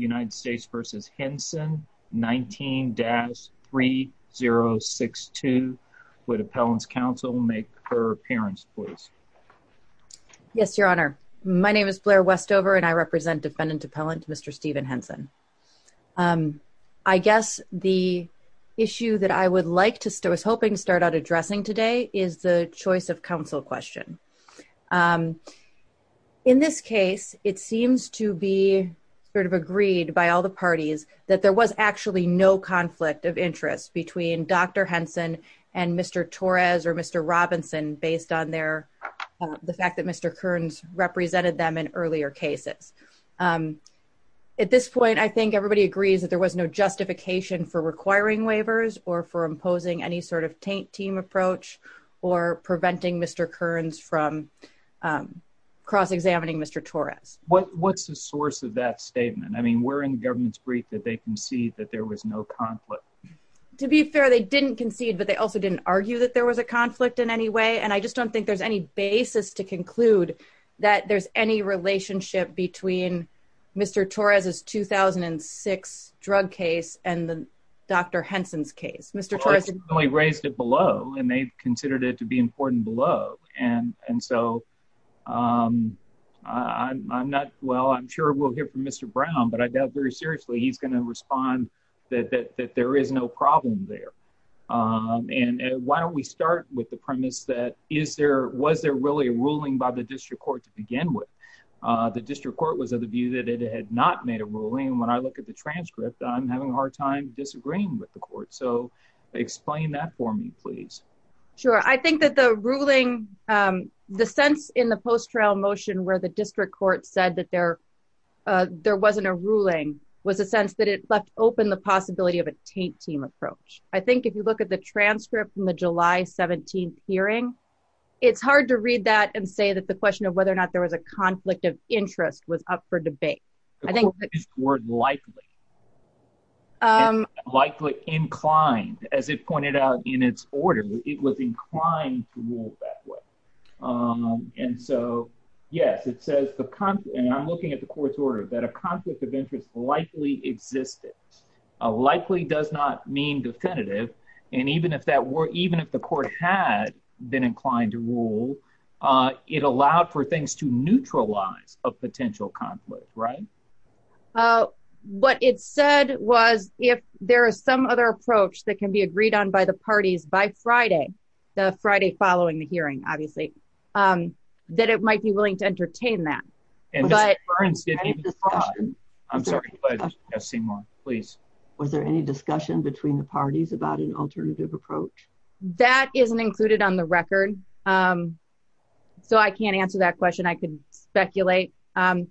United States v. Henson, 19-3062. Would Appellant's Counsel make her appearance, please? Yes, Your Honor. My name is Blair Westover and I represent Defendant Appellant Mr. Stephen Henson. I guess the issue that I would like to start, I was hoping to start out addressing today is the choice of counsel question. In this case, it seems to be sort of agreed by all the parties that there was actually no conflict of interest between Dr. Henson and Mr. Torres or Mr. Robinson based on their, the fact that Mr. Kearns represented them in earlier cases. At this point, I think everybody agrees that there was no justification for or preventing Mr. Kearns from cross-examining Mr. Torres. What's the source of that statement? I mean, we're in the government's brief that they concede that there was no conflict. To be fair, they didn't concede, but they also didn't argue that there was a conflict in any way. And I just don't think there's any basis to conclude that there's any relationship between Mr. Torres's 2006 drug case and the Dr. Henson's case. Well, they raised it below and they considered it to be important below. And so I'm not, well, I'm sure we'll hear from Mr. Brown, but I doubt very seriously he's going to respond that there is no problem there. And why don't we start with the premise that is there, was there really a ruling by the district court to begin with? The district court was of the view that it had not made a ruling. When I look at the transcript, I'm having a hard time disagreeing with the court. So explain that for me, please. Sure. I think that the ruling, the sense in the post-trail motion where the district court said that there wasn't a ruling was a sense that it left open the possibility of a taint team approach. I think if you look at the transcript from the July 17th hearing, it's hard to read that and say that the question of whether or not there was a conflict of interest was up for debate. I think the word likely, likely inclined, as it pointed out in its order, it was inclined to rule that way. And so, yes, it says the, and I'm looking at the court's order, that a conflict of interest likely existed, likely does not mean definitive. And even if that were, even if the court had been inclined to rule, it allowed for things to neutralize a potential conflict, right? Uh, what it said was if there is some other approach that can be agreed on by the parties by Friday, the Friday following the hearing, obviously, um, that it might be willing to entertain that. I'm sorry. Yes. Seymour, please. Was there any discussion between the parties about an alternative approach that isn't included on the record? Um, so I can't answer that question. I can speculate. Um,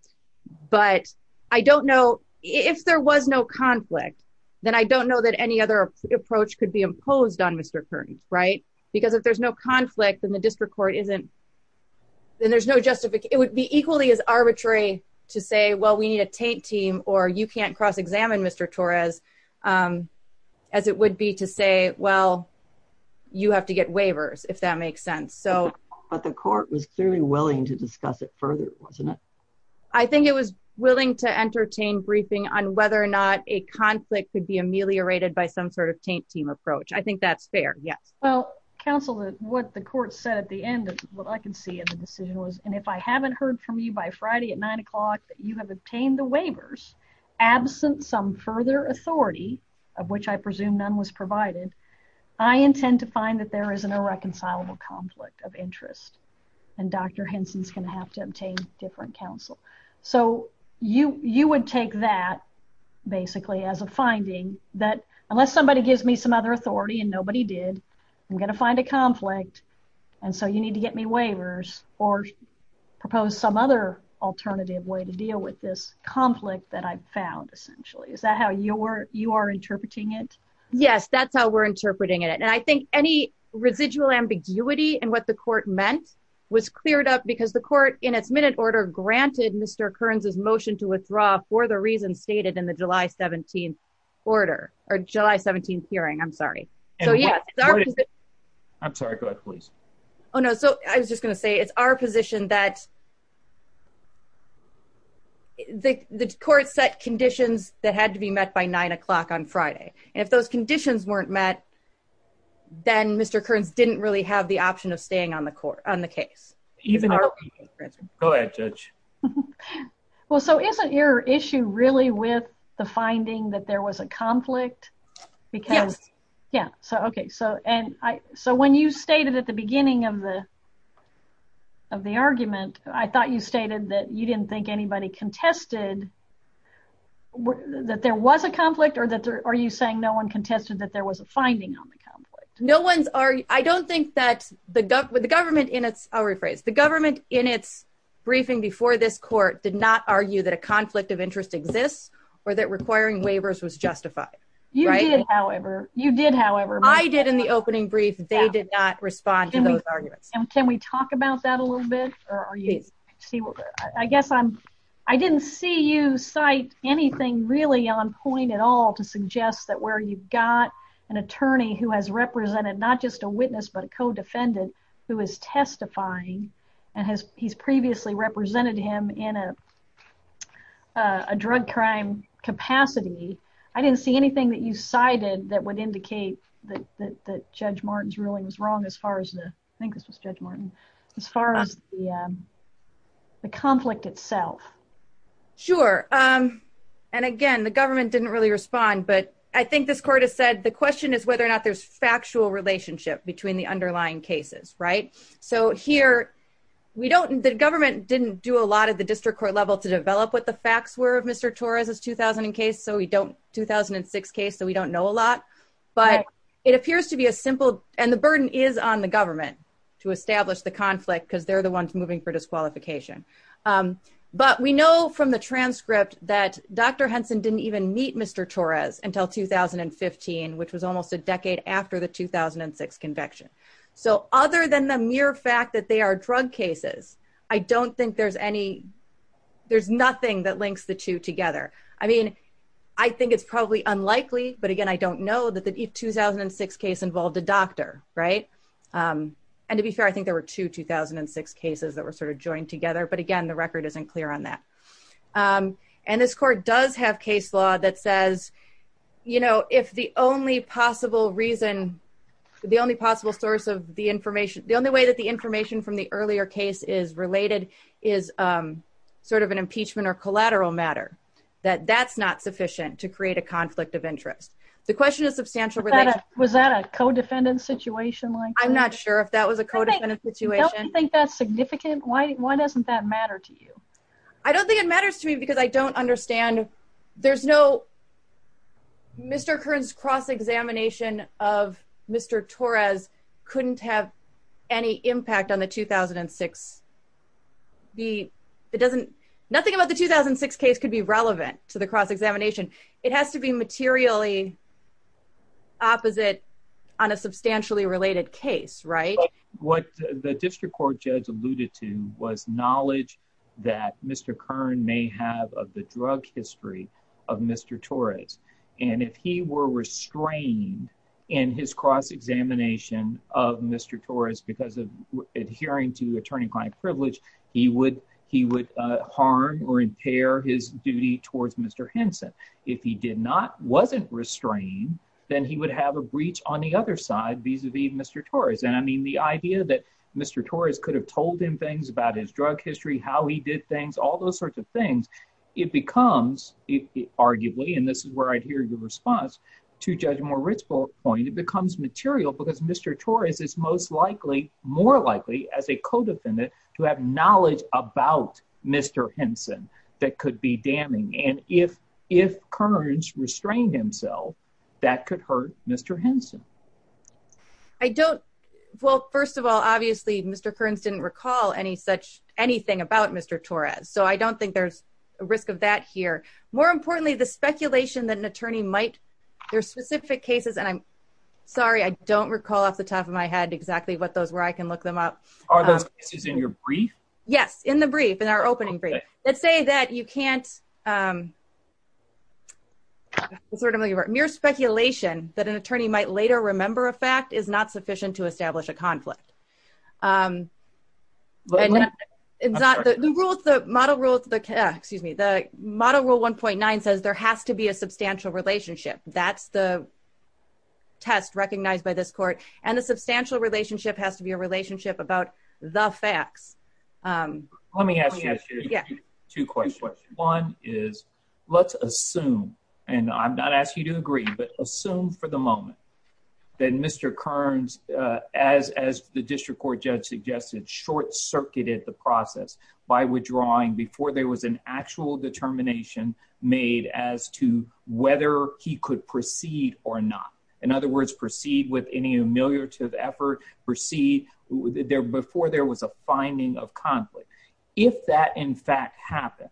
but I don't know if there was no conflict, then I don't know that any other approach could be imposed on Mr. Curtin, right? Because if there's no conflict, then the district court isn't, then there's no justification. It would be equally as arbitrary to say, well, we need a tape team or you can't cross examine Mr. Torres, um, as it would be to say, well, you have to get waivers if that makes sense. So, but the court was clearly willing to discuss it further, wasn't it? I think it was willing to entertain briefing on whether or not a conflict could be ameliorated by some sort of taint team approach. I think that's fair. Yes. Well, counsel, what the court said at the end of what I can see in the decision was, and if I haven't heard from you by Friday at nine o'clock that you have obtained the waivers absent some further authority of which I presume none was provided, I intend to find that there is an irreconcilable conflict of interest and Dr. Henson's going to have to obtain different counsel. So you, you would take that basically as a finding that unless somebody gives me some other authority and nobody did, I'm going to find a conflict. And so you need to get me waivers or propose some other alternative way to deal with this conflict that I've found essentially. Is that how you're, you are interpreting it? Yes, that's how we're interpreting it. And I think any residual ambiguity and what the court meant was cleared up because the court in its minute order granted Mr. Kearns's motion to withdraw for the reasons stated in the July 17th order or July 17th hearing. I'm sorry. So yeah, I'm sorry. Go ahead, please. Oh no. So I was just going to the court set conditions that had to be met by nine o'clock on Friday. And if those conditions weren't met, then Mr. Kearns didn't really have the option of staying on the court on the case. Go ahead, judge. Well, so isn't your issue really with the finding that there was a conflict? Because yeah. So, okay. So, and I, so when you stated at the beginning of the, of the argument, I thought you stated that you didn't think anybody contested that there was a conflict or that there, are you saying no one contested that there was a finding on the conflict? No one's, I don't think that the government, the government in its, I'll rephrase, the government in its briefing before this court did not argue that a conflict of interest exists or that requiring waivers was justified. You did however, you did however. I did in the opening brief, they did not respond to those arguments. And can we talk about that a little bit or are you, I guess I'm, I didn't see you cite anything really on point at all to suggest that where you've got an attorney who has represented not just a witness, but a co-defendant who is testifying and has, he's previously represented him in a, a drug crime capacity. I didn't see anything that you cited that would indicate that, that Judge Martin's ruling was wrong as far as the, I think this was Judge Martin, as far as the, the conflict itself. Sure. And again, the government didn't really respond, but I think this court has said, the question is whether or not there's factual relationship between the underlying cases, right? So here we don't, the government didn't do a lot of the district court level to develop what the facts were of Mr. Torres' 2000 case. So we don't, 2006 case, so we don't know a lot, but it appears to be a simple, and the burden is on the government to establish the conflict because they're the ones moving for disqualification. But we know from the transcript that Dr. Henson didn't even meet Mr. Torres until 2015, which was almost a decade after the 2006 conviction. So other than the mere fact that they are drug cases, I don't think there's any, there's nothing that links the two together. I mean, I think it's probably unlikely, but again, I don't know that the 2006 case involved a doctor, right? And to be fair, I think there were two 2006 cases that were sort of joined together, but again, the record isn't clear on that. And this court does have case law that says, you know, if the only possible reason, the only possible source of the information, the only way that the information from the earlier case is related is sort of an impeachment or collateral matter, that that's not sufficient to create a conflict of interest. The question is substantial. Was that a co-defendant situation? I'm not sure if that was a co-defendant situation. Don't you think that's significant? Why doesn't that matter to you? I don't think it matters to me because I don't understand, there's no, Mr. Kern's cross-examination of Mr. Torres couldn't have any impact on the 2006, the, it doesn't, nothing about the 2006 case could be relevant to the cross-examination. It has to be materially opposite on a substantially related case, right? What the district court judge alluded to was knowledge that Mr. Kern may have of the drug history of Mr. Torres. And if he were restrained in his cross-examination of Mr. Torres because of adhering to attorney-client privilege, he would harm or impair his duty towards Mr. Henson. If he did not, wasn't restrained, then he would have a breach on the other side vis-a-vis Mr. Torres. And I mean, the idea that Mr. Torres could have told him things about his drug history, how he did things, all those sorts of things, it becomes arguably, and this is where I'd hear your response to Judge Moritz's point, it becomes material because Mr. Torres is most likely, more likely as a co-defendant to have knowledge about Mr. Henson that could be damning. And if, if Kerns restrained himself, that could hurt Mr. Henson. I don't, well, first of all, obviously Mr. Kerns didn't recall any such, anything about Mr. Torres. So I don't think there's a risk of that here. More importantly, the speculation that an attorney might, there are specific cases, and I'm sorry, I don't recall off the top of my head exactly what those were, I can look them up. Are those cases in your brief? Yes, in the brief, in our opening brief. Let's say that you can't, mere speculation that an attorney might later remember a fact is not sufficient to establish a conflict. The rule, the model rule, excuse me, the model rule 1.9 says there has to be a substantial relationship. That's the test recognized by this court. And the substantial relationship has to be a relationship about the facts. Let me ask you two questions. One is, let's assume, and I'm not asking you to agree, but assume for the moment that Mr. Kerns, as the district court judge suggested, short-circuited the process by withdrawing before there was an actual determination made as to whether he could proceed or not. In other words, proceed with any humiliative effort, proceed before there was a finding of conflict. If that, in fact, happened,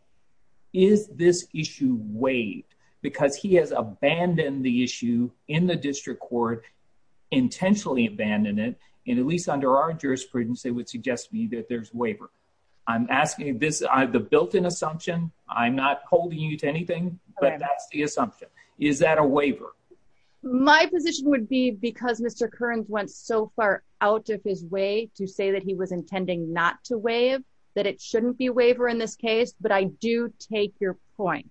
is this issue waived? Because he has abandoned the issue in the district court, intentionally abandoned it, and at least under our jurisprudence, they would suggest to me that there's waiver. I'm asking this, the built-in assumption, I'm not holding you to anything, but that's the assumption. Is that a waiver? My position would be because Mr. Kerns went so far out of his way to say that he was intending not to waive, that it shouldn't be a waiver in this case, but I do take your point.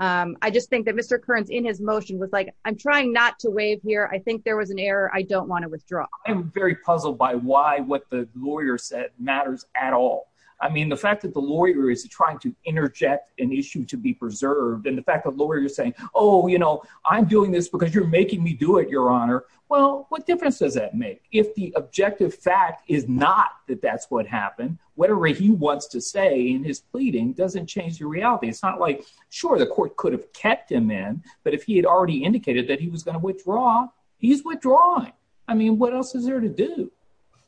I just think that Mr. Kerns, in his motion, was like, I'm trying not to waive here. I think there was an error. I don't want to withdraw. I'm very puzzled by why what the lawyer said matters at all. I mean, the fact that the lawyer is trying to interject an issue to be preserved, and the fact that the you're making me do it, your honor, well, what difference does that make? If the objective fact is not that that's what happened, whatever he wants to say in his pleading doesn't change the reality. It's not like, sure, the court could have kept him in, but if he had already indicated that he was going to withdraw, he's withdrawing. I mean, what else is there to do?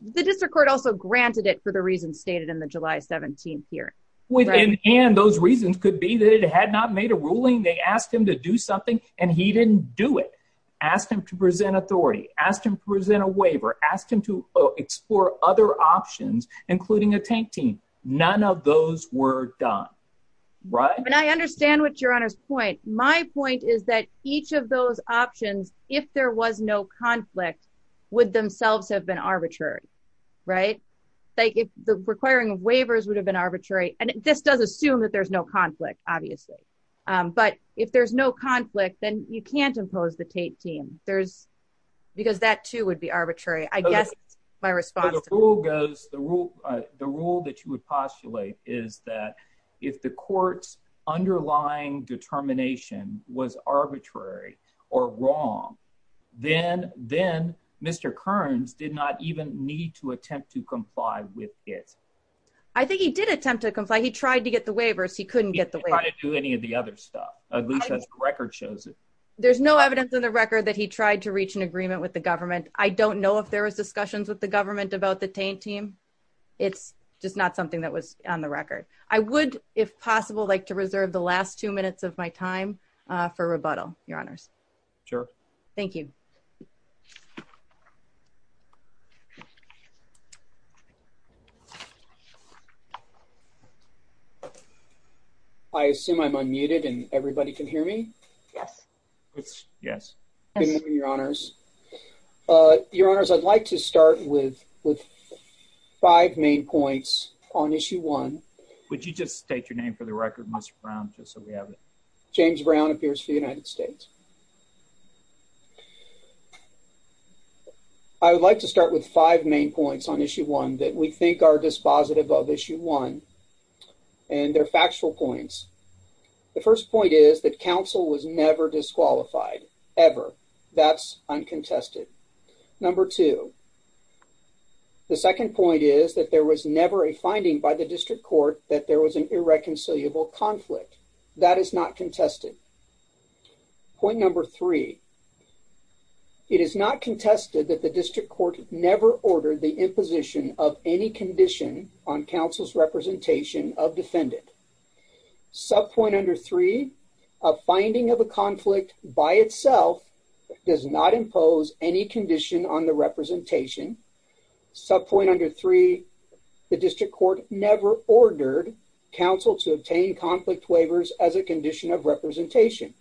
The district court also granted it for the reasons stated in the July 17th hearing. And those reasons could be that it had not made a ruling. They asked him to do something, and he didn't do it. Asked him to present authority, asked him to present a waiver, asked him to explore other options, including a tank team. None of those were done, right? And I understand what your honor's point. My point is that each of those options, if there was no conflict, would themselves have been arbitrary, right? Like if the requiring of waivers would have been arbitrary, and this does assume that there's no conflict, obviously, but if there's no conflict, then you can't impose the tape team. There's because that too would be arbitrary. I guess my response to the rule, the rule that you would postulate is that if the court's underlying determination was arbitrary or wrong, then Mr. Kearns did not even need to attempt to comply with it. I think he did attempt to comply. He tried to get the waivers. He couldn't get the way to do any of the other stuff. At least the record shows it. There's no evidence in the record that he tried to reach an agreement with the government. I don't know if there was discussions with the government about the tank team. It's just not something that was on the record. I would, if possible, like to I assume I'm unmuted and everybody can hear me. Yes. Yes, your honors. Uh, your honors. I'd like to start with five main points on issue one. Would you just state your name for the record, Mr Brown? Just so we have it. James Brown appears for the United States. I would like to start with five main points on issue one that we think are dispositive of issue one. And they're factual points. The first point is that counsel was never disqualified ever. That's uncontested. Number two. The second point is that there was never a finding by the district court that there was an irreconcilable conflict. That is not contested. Point number three. It is not contested that the district court never ordered the imposition of any condition on counsel's representation of defendant. Subpoint under three. A finding of a conflict by itself does not impose any condition on the representation. Subpoint under three. The district court never ordered counsel to obtain conflict waivers as a condition of representation.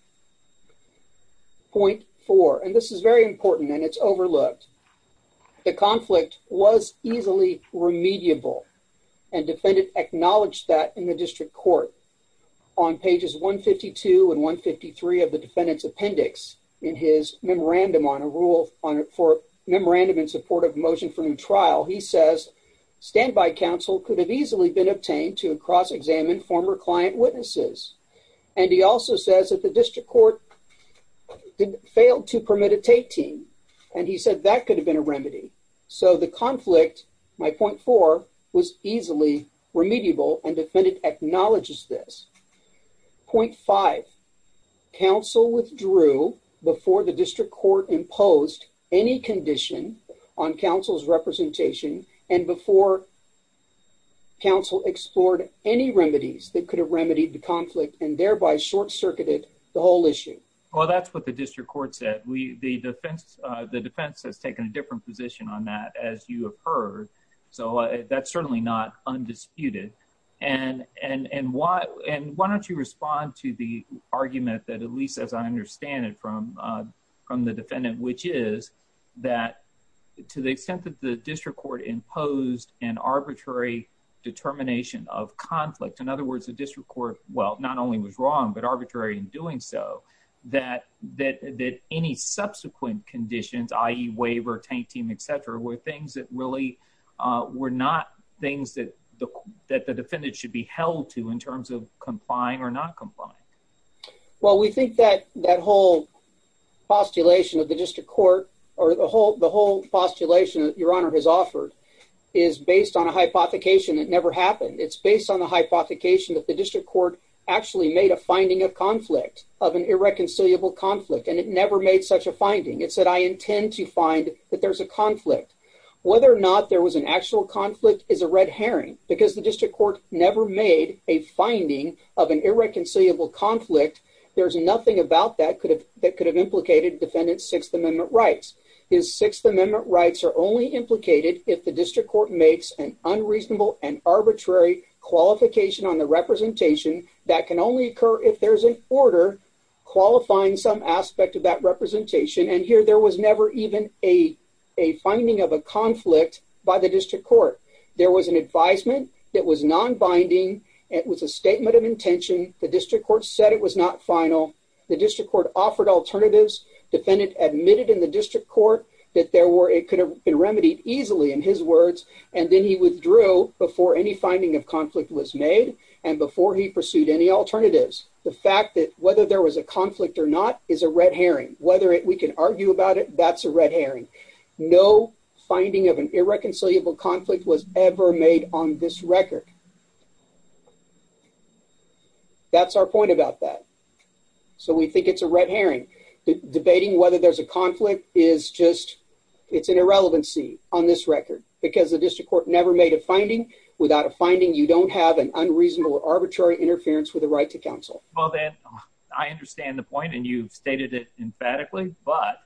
Point four. And this is very important and it's overlooked. The conflict was easily remediable. And defendant acknowledged that in the district court. On pages 152 and 153 of the defendant's appendix in his memorandum on a rule for memorandum in support of motion for new trial, he says standby counsel could have easily been obtained to cross-examine former client witnesses. And he also says that the district court failed to permit a tape team. And he said that could have been a remedy. So the conflict, my point four, was easily remediable and defendant acknowledges this. Point five. Counsel withdrew before the district court imposed any condition on counsel's representation and before counsel explored any remedies that could have remedied the conflict and thereby short-circuited the whole issue. Well, that's what the district court said. The defense has taken a different position on that as you have heard. So that's certainly not undisputed. And why don't you respond to the argument that at least as I understand it from the defendant, which is that to the extent that the district court imposed an arbitrary determination of conflict, in other words, the district court, well, not only was wrong, but arbitrary in doing so, that any subsequent conditions, i.e. waiver, tape team, et cetera, were things that really were not things that the defendant should be held to in terms of complying or not complying. Well, we think that that whole postulation of the district court or the whole postulation that your honor has offered is based on a hypothecation that never happened. It's based on the hypothecation that the district court actually made a finding of conflict, of an irreconcilable conflict, and it never made such a finding. It said, I intend to find that there's a conflict. Whether or not there was an actual conflict is a red herring because the district court never made a finding of an irreconcilable conflict. There's nothing about that that could have implicated defendant's Sixth Amendment rights. His Sixth Amendment rights are only implicated if the district court makes an that can only occur if there's an order qualifying some aspect of that representation, and here there was never even a finding of a conflict by the district court. There was an advisement that was non-binding. It was a statement of intention. The district court said it was not final. The district court offered alternatives. Defendant admitted in the district court that there were, it could have been remedied easily in his words, and then he withdrew before any alternatives. The fact that whether there was a conflict or not is a red herring. Whether we can argue about it, that's a red herring. No finding of an irreconcilable conflict was ever made on this record. That's our point about that. So we think it's a red herring. Debating whether there's a conflict is just, it's an irrelevancy on this record because the district court never made a finding. You don't have an unreasonable or arbitrary interference with the right to counsel. Well then, I understand the point and you've stated it emphatically, but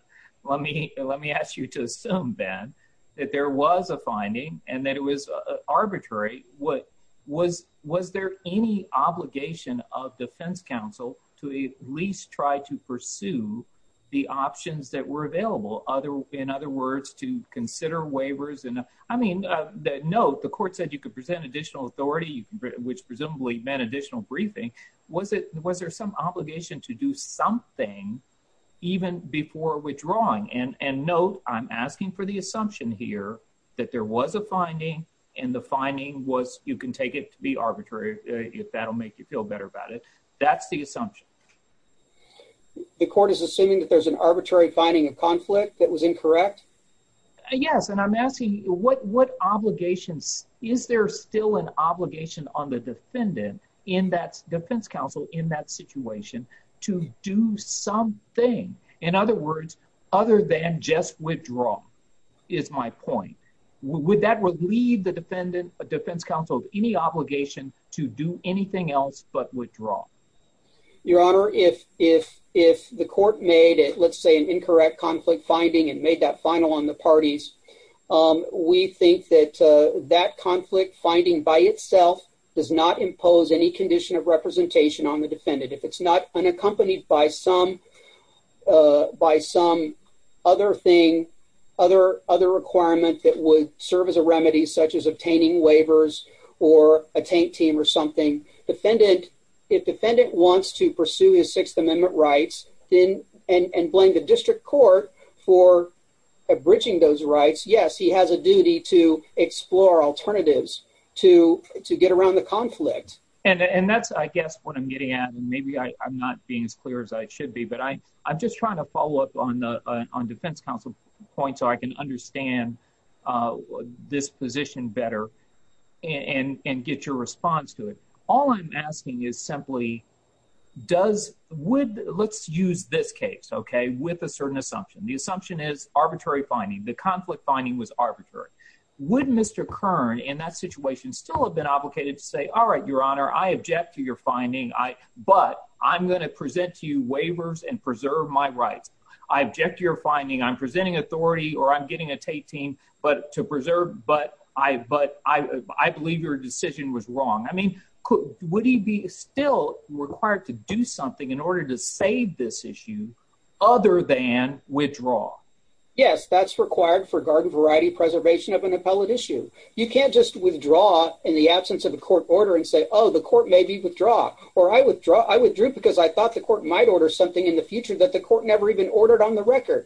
let me ask you to assume, Ben, that there was a finding and that it was arbitrary. Was there any obligation of defense counsel to at least try to pursue the options that were available? In other words, to consider additional authority, which presumably meant additional briefing, was there some obligation to do something even before withdrawing? And note, I'm asking for the assumption here that there was a finding and the finding was you can take it to be arbitrary if that'll make you feel better about it. That's the assumption. The court is assuming that there's an arbitrary finding of conflict that was incorrect? Yes, and I'm asking what obligations, is there still an obligation on the defendant in that defense counsel in that situation to do something? In other words, other than just withdraw, is my point. Would that relieve the defendant, defense counsel, of any obligation to do anything else but withdraw? Your honor, if the court made it, say, an incorrect conflict finding and made that final on the parties, we think that that conflict finding by itself does not impose any condition of representation on the defendant. If it's not unaccompanied by some other thing, other requirement that would serve as a remedy, such as obtaining waivers or a tank team or something, if defendant wants to pursue his district court for abridging those rights, yes, he has a duty to explore alternatives to get around the conflict. And that's, I guess, what I'm getting at. Maybe I'm not being as clear as I should be, but I'm just trying to follow up on defense counsel point so I can understand this position better and get your response to it. All I'm asking is simply, does, would, let's use this case, okay, with a certain assumption. The assumption is arbitrary finding. The conflict finding was arbitrary. Would Mr. Kern, in that situation, still have been obligated to say, all right, your honor, I object to your finding, but I'm going to present to you waivers and preserve my rights. I object to your finding. I'm presenting authority or I'm getting a tank team, but to preserve, but I believe your decision was wrong. I mean, would he be still required to do something in order to save this issue other than withdraw? Yes, that's required for garden variety preservation of an appellate issue. You can't just withdraw in the absence of a court order and say, oh, the court may be withdraw, or I withdrew because I thought the court might order something in the future that the court never even ordered on the record.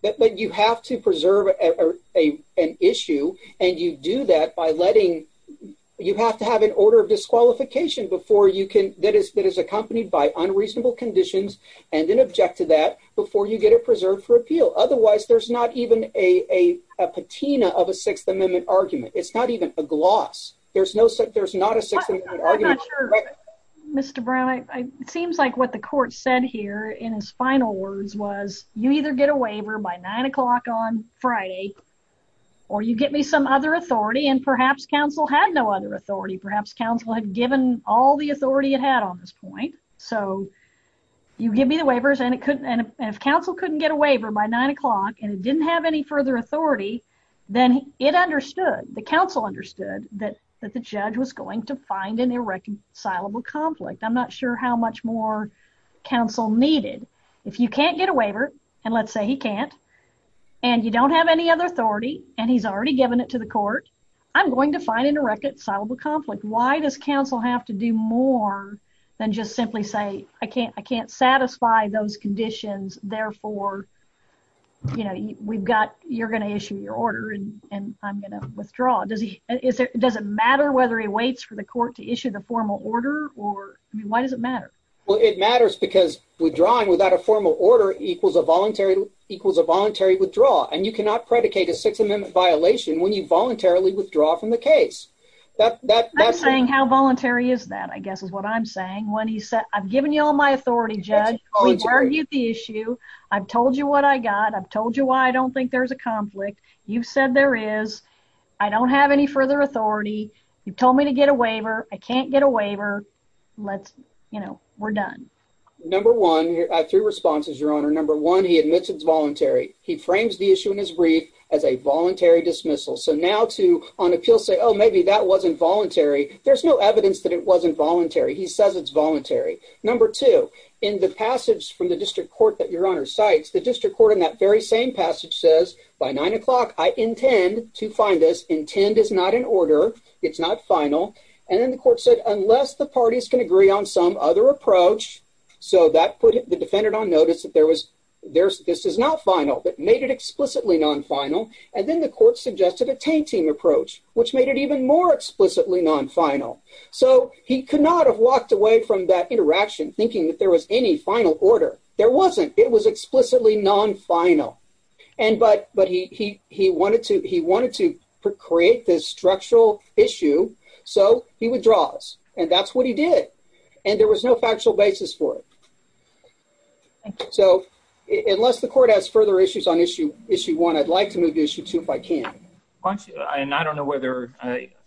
But you have to preserve an issue and you do that by letting, you have to have an order of disqualification before you can, that is accompanied by unreasonable conditions and then object to that before you get it preserved for appeal. Otherwise, there's not even a patina of a Sixth Amendment argument. It's not even a gloss. There's no, there's not a Sixth Amendment argument. I'm not sure, Mr. Brown, it seems like what the court said here in his final words was you either get a waiver by nine o'clock on Friday or you get me some other authority and perhaps counsel had no other authority. Perhaps counsel had given all the authority it had on this point. So you give me the waivers and if counsel couldn't get a waiver by nine o'clock and it didn't have any further authority, then it understood, the counsel understood that the judge was going to find an irreconcilable conflict. I'm not sure how much more counsel needed. If you can't get a waiver, and let's say he can't, and you don't have any other authority and he's already given it to the court, I'm going to find an irreconcilable conflict. Why does counsel have to do more than just simply say, I can't, I can't satisfy those conditions. Therefore, you know, we've got, you're going to issue your order and I'm going to withdraw. Does he, is there, does it matter whether he waits for the court to issue the formal order or, I mean, why does it matter? Well, it matters because withdrawing without a formal order equals a voluntary, equals a voluntary withdrawal and you cannot predicate a Sixth Amendment violation when you voluntarily withdraw from the case. I'm saying how voluntary is that, I guess is what I'm saying. When he said, I've given you all my authority judge, we've argued the issue, I've told you what I got, I've told you why I don't think there's a conflict, you've said there is, I don't have any further authority, you've told me to get a waiver, I can't get a waiver, let's, you know, we're done. Number one, three responses, Your Honor. Number one, he admits it's voluntary. He frames the issue in his brief as a voluntary dismissal. So now to, on appeal, say, oh, maybe that wasn't voluntary. There's no evidence that it wasn't voluntary. He says it's voluntary. Number two, in the passage from the district court that Your Honor cites, the district court in that very same passage says, by nine o'clock, I intend to find this, intend is not in order, it's not final, and the court said, unless the parties can agree on some other approach, so that put the defendant on notice that there was, there's, this is not final, but made it explicitly non-final, and then the court suggested a tainting approach, which made it even more explicitly non-final. So he could not have walked away from that interaction thinking that there was any final order. There wasn't. It was explicitly non-final. And, but, but he, he, he wanted to, he wanted to create this structural issue, so he withdraws, and that's what he did, and there was no factual basis for it. So unless the court has further issues on issue, issue one, I'd like to move to issue two if I can. Why don't you, and I don't know whether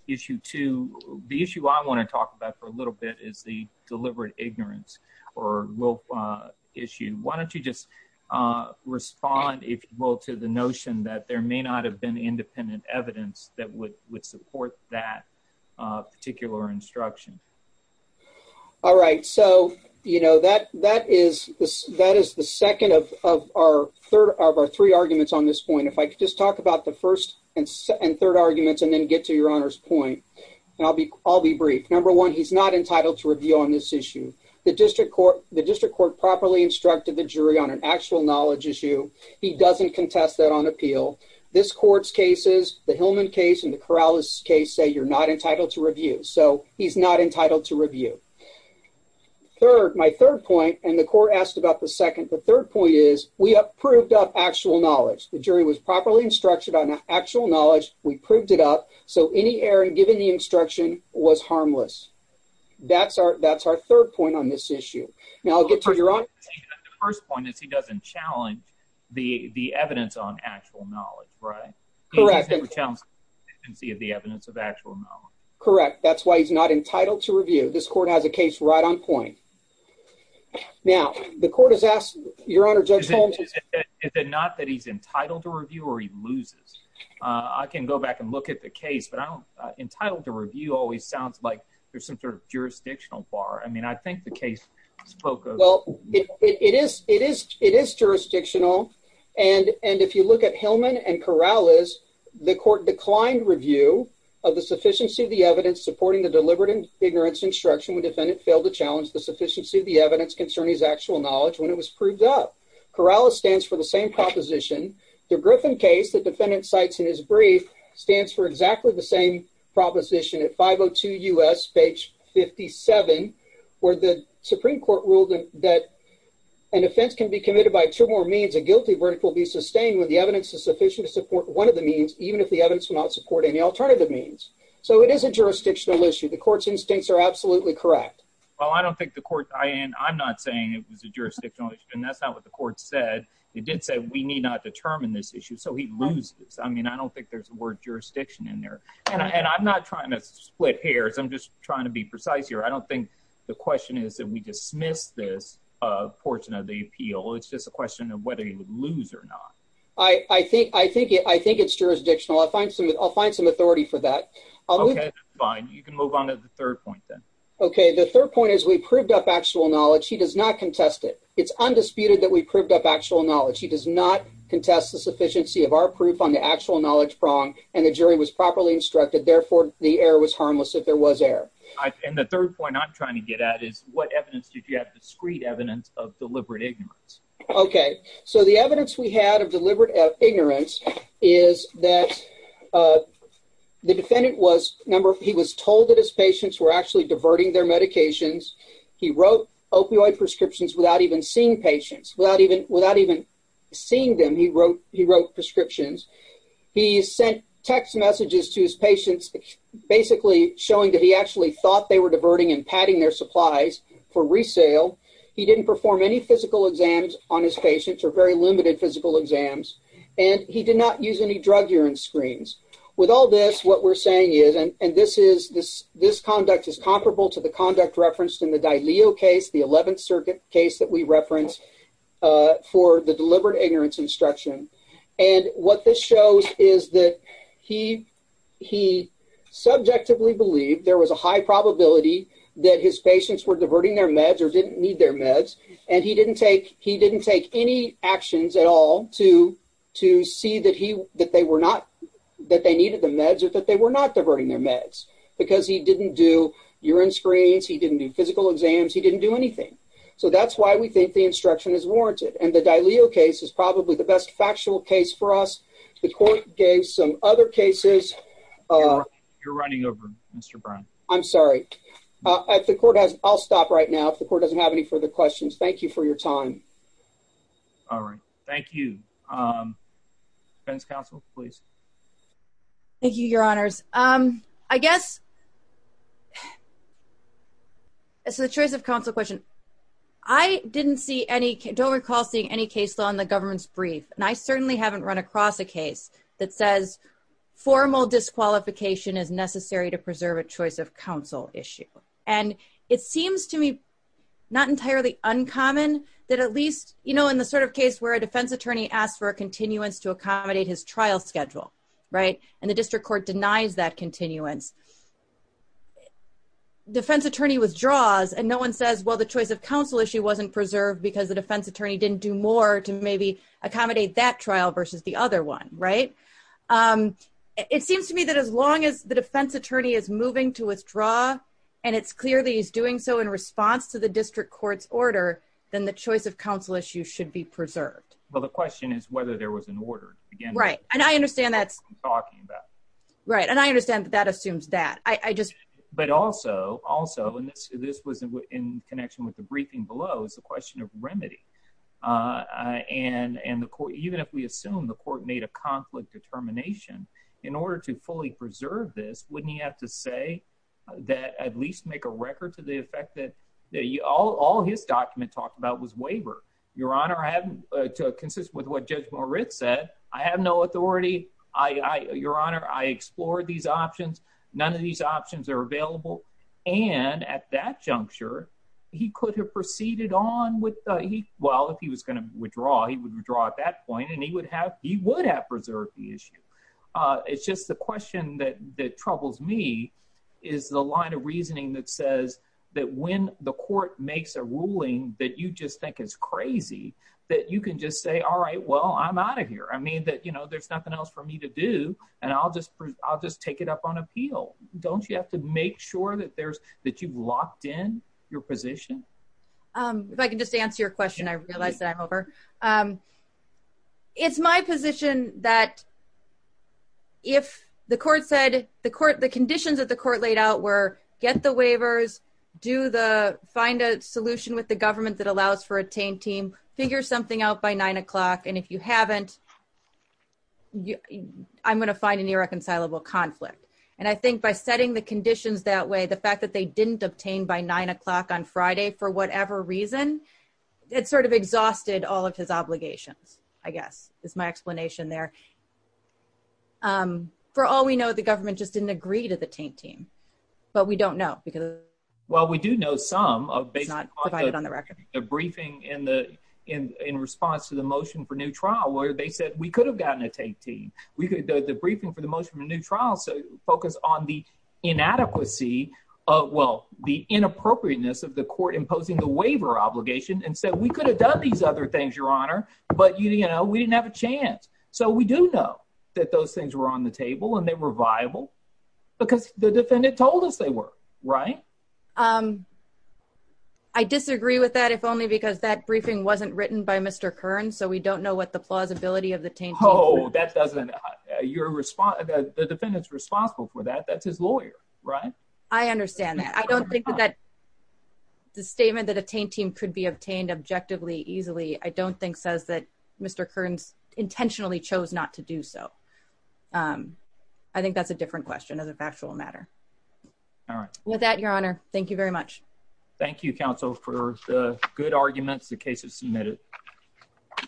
issue two, the issue I want to talk about for a little bit is the deliberate ignorance or will issue. Why don't you just respond, if you will, to the notion that there may not have been independent evidence that would, would support that particular instruction. All right. So, you know, that, that is the, that is the second of, of our third of our three arguments on this point. If I could just talk about the first and third arguments and then get to your honor's point, and I'll be, I'll be brief. Number one, he's not entitled to review on this issue. The district court, the district court properly instructed the jury on an actual knowledge issue. He doesn't contest that on appeal. This court's cases, the Hillman case and the Corrales case say you're not entitled to review, so he's not entitled to review. Third, my third point, and the court asked about the second, the third point is we have proved up actual knowledge. The jury was properly instructed on actual knowledge. We proved it up, so any error given the instruction was harmless. That's our, that's our third point on this issue. Now I'll challenge the, the evidence on actual knowledge, right? Correct. And see the evidence of actual knowledge. Correct. That's why he's not entitled to review. This court has a case right on point. Now the court has asked your honor judge Holmes, is it not that he's entitled to review or he loses? I can go back and look at the case, but I don't entitled to review always sounds like there's some sort of jurisdictional bar. I mean, I think the case spoke of, well, it is, it is, it is jurisdictional. And, and if you look at Hillman and Corrales, the court declined review of the sufficiency of the evidence supporting the deliberate ignorance instruction when defendant failed to challenge the sufficiency of the evidence concerning his actual knowledge when it was proved up. Corrales stands for the same proposition. The Griffin case that defendant cites in his brief stands for exactly the same proposition at 502 U S page 57, where the Supreme court ruled that an offense can be committed by two more means. A guilty verdict will be sustained when the evidence is sufficient to support one of the means, even if the evidence will not support any alternative means. So it is a jurisdictional issue. The court's instincts are absolutely correct. Well, I don't think the court, I am, I'm not saying it was a jurisdictional issue. And that's not what the court said. It did say, we need not determine this issue. So he loses. I mean, I don't think there's a word jurisdiction in there and I'm not trying to split hairs. I'm just trying to be precise here. I don't think the question is that we dismiss this, uh, portion of the appeal. It's just a question of whether you would lose or not. I think, I think, I think it's jurisdictional. I'll find some, I'll find some authority for that. Okay, fine. You can move on to the third point then. Okay. The third point is we proved up actual knowledge. He does not contest it. It's undisputed that we proved up actual knowledge. He does not contest the sufficiency of our proof on the actual knowledge prong and the jury was properly instructed. Therefore, the error was harmless if there was error. And the third point I'm trying to get at is what evidence did you have? Discrete evidence of deliberate ignorance. Okay. So the evidence we had of deliberate ignorance is that, uh, the defendant was number, he was told that his patients were actually diverting their medications. He wrote opioid prescriptions without even seeing patients, without even, without even seeing them. He wrote, he wrote prescriptions. He sent text messages to his patients, basically showing that he actually thought they were diverting and padding their supplies for resale. He didn't perform any physical exams on his patients or very limited physical exams, and he did not use any drug urine screens. With all this, what we're saying is, and this is, this, this conduct is comparable to the conduct referenced in the for the deliberate ignorance instruction. And what this shows is that he, he subjectively believed there was a high probability that his patients were diverting their meds or didn't need their meds. And he didn't take, he didn't take any actions at all to, to see that he, that they were not, that they needed the meds or that they were not diverting their meds because he didn't do urine screens. He didn't do physical exams. He didn't do anything. So that's why we think the is warranted. And the Dileo case is probably the best factual case for us. The court gave some other cases. You're running over Mr. Brown. I'm sorry. At the court has, I'll stop right now. If the court doesn't have any further questions, thank you for your time. All right. Thank you. Defense counsel, please. Thank you, your honors. I guess, so the choice of counsel question, I didn't see any, don't recall seeing any case law in the government's brief. And I certainly haven't run across a case that says formal disqualification is necessary to preserve a choice of counsel issue. And it seems to me not entirely uncommon that at least, you know, in the sort of case where a defense attorney asks for a continuance to accommodate his trial schedule, right. And the district court denies that continuance. Defense attorney withdraws and no one says, well, the choice of counsel issue wasn't preserved because the defense attorney didn't do more to maybe accommodate that trial versus the other one. Right. It seems to me that as long as the defense attorney is moving to withdraw, and it's clear that he's doing so in response to the district court's order, then the choice of counsel issue should be preserved. Well, the question is whether there was an order again, right. And I understand that's talking about, right. And I understand that assumes that I just, but also, also, and this, this was in connection with the briefing below is the question of remedy. And, and the court, even if we assume the court made a conflict determination in order to fully preserve this, wouldn't he have to say that at least make a record to the effect that all his document talked about was waiver. Your honor, I haven't consistent with what judge Moritz said. I have no authority. I, I, your honor, I explored these options. None of these options are available. And at that juncture, he could have proceeded on with he, well, if he was going to withdraw, he would withdraw at that point. And he would have, he would have preserved the issue. It's just the question that, that troubles me is the line of reasoning that says that when the court makes a ruling that you just think is crazy, that you can just say, all right, well, I'm out of here. I mean that, you know, there's nothing else for me to do and I'll just, I'll just take it up on appeal. Don't you have to make sure that there's, that you've locked in your position? If I can just answer your question, I realized that I'm over. It's my position that if the court said the court, the conditions that the court laid out were get the waivers, do the, find a solution with the government that allows for a taint team, figure something out by nine o'clock. And if you haven't, I'm going to find an irreconcilable conflict. And I think by setting the conditions that way, the fact that they didn't obtain by nine o'clock on Friday, for whatever reason, it sort of exhausted all of his obligations, I guess, is my explanation there. For all we know, the government just didn't agree to the taint team, but we don't know. Well, we do know some of the briefing in the, in, in response to the motion for new trial, where they said we could have gotten a taint team. We could do the briefing for the motion of a new trial. So focus on the inadequacy of, well, the inappropriateness of the court, imposing the waiver obligation and said, we could have done these other things, your honor, but you know, we didn't have a chance. So we do know that those things were on the table and they were viable because the defendant told us they were, right? I disagree with that, if only because that briefing wasn't written by Mr. Kern. So we don't know what the plausibility of the taint team is. Oh, that doesn't, your response, the defendant's responsible for that. That's his lawyer, right? I understand that. I don't think that the statement that a taint team could be obtained objectively easily, I don't think says that Mr. Kern's intentionally chose not to do so. I think that's a different question as a factual matter. All right. With that, your honor. Thank you very much. Thank you counsel for the good arguments. The case is submitted.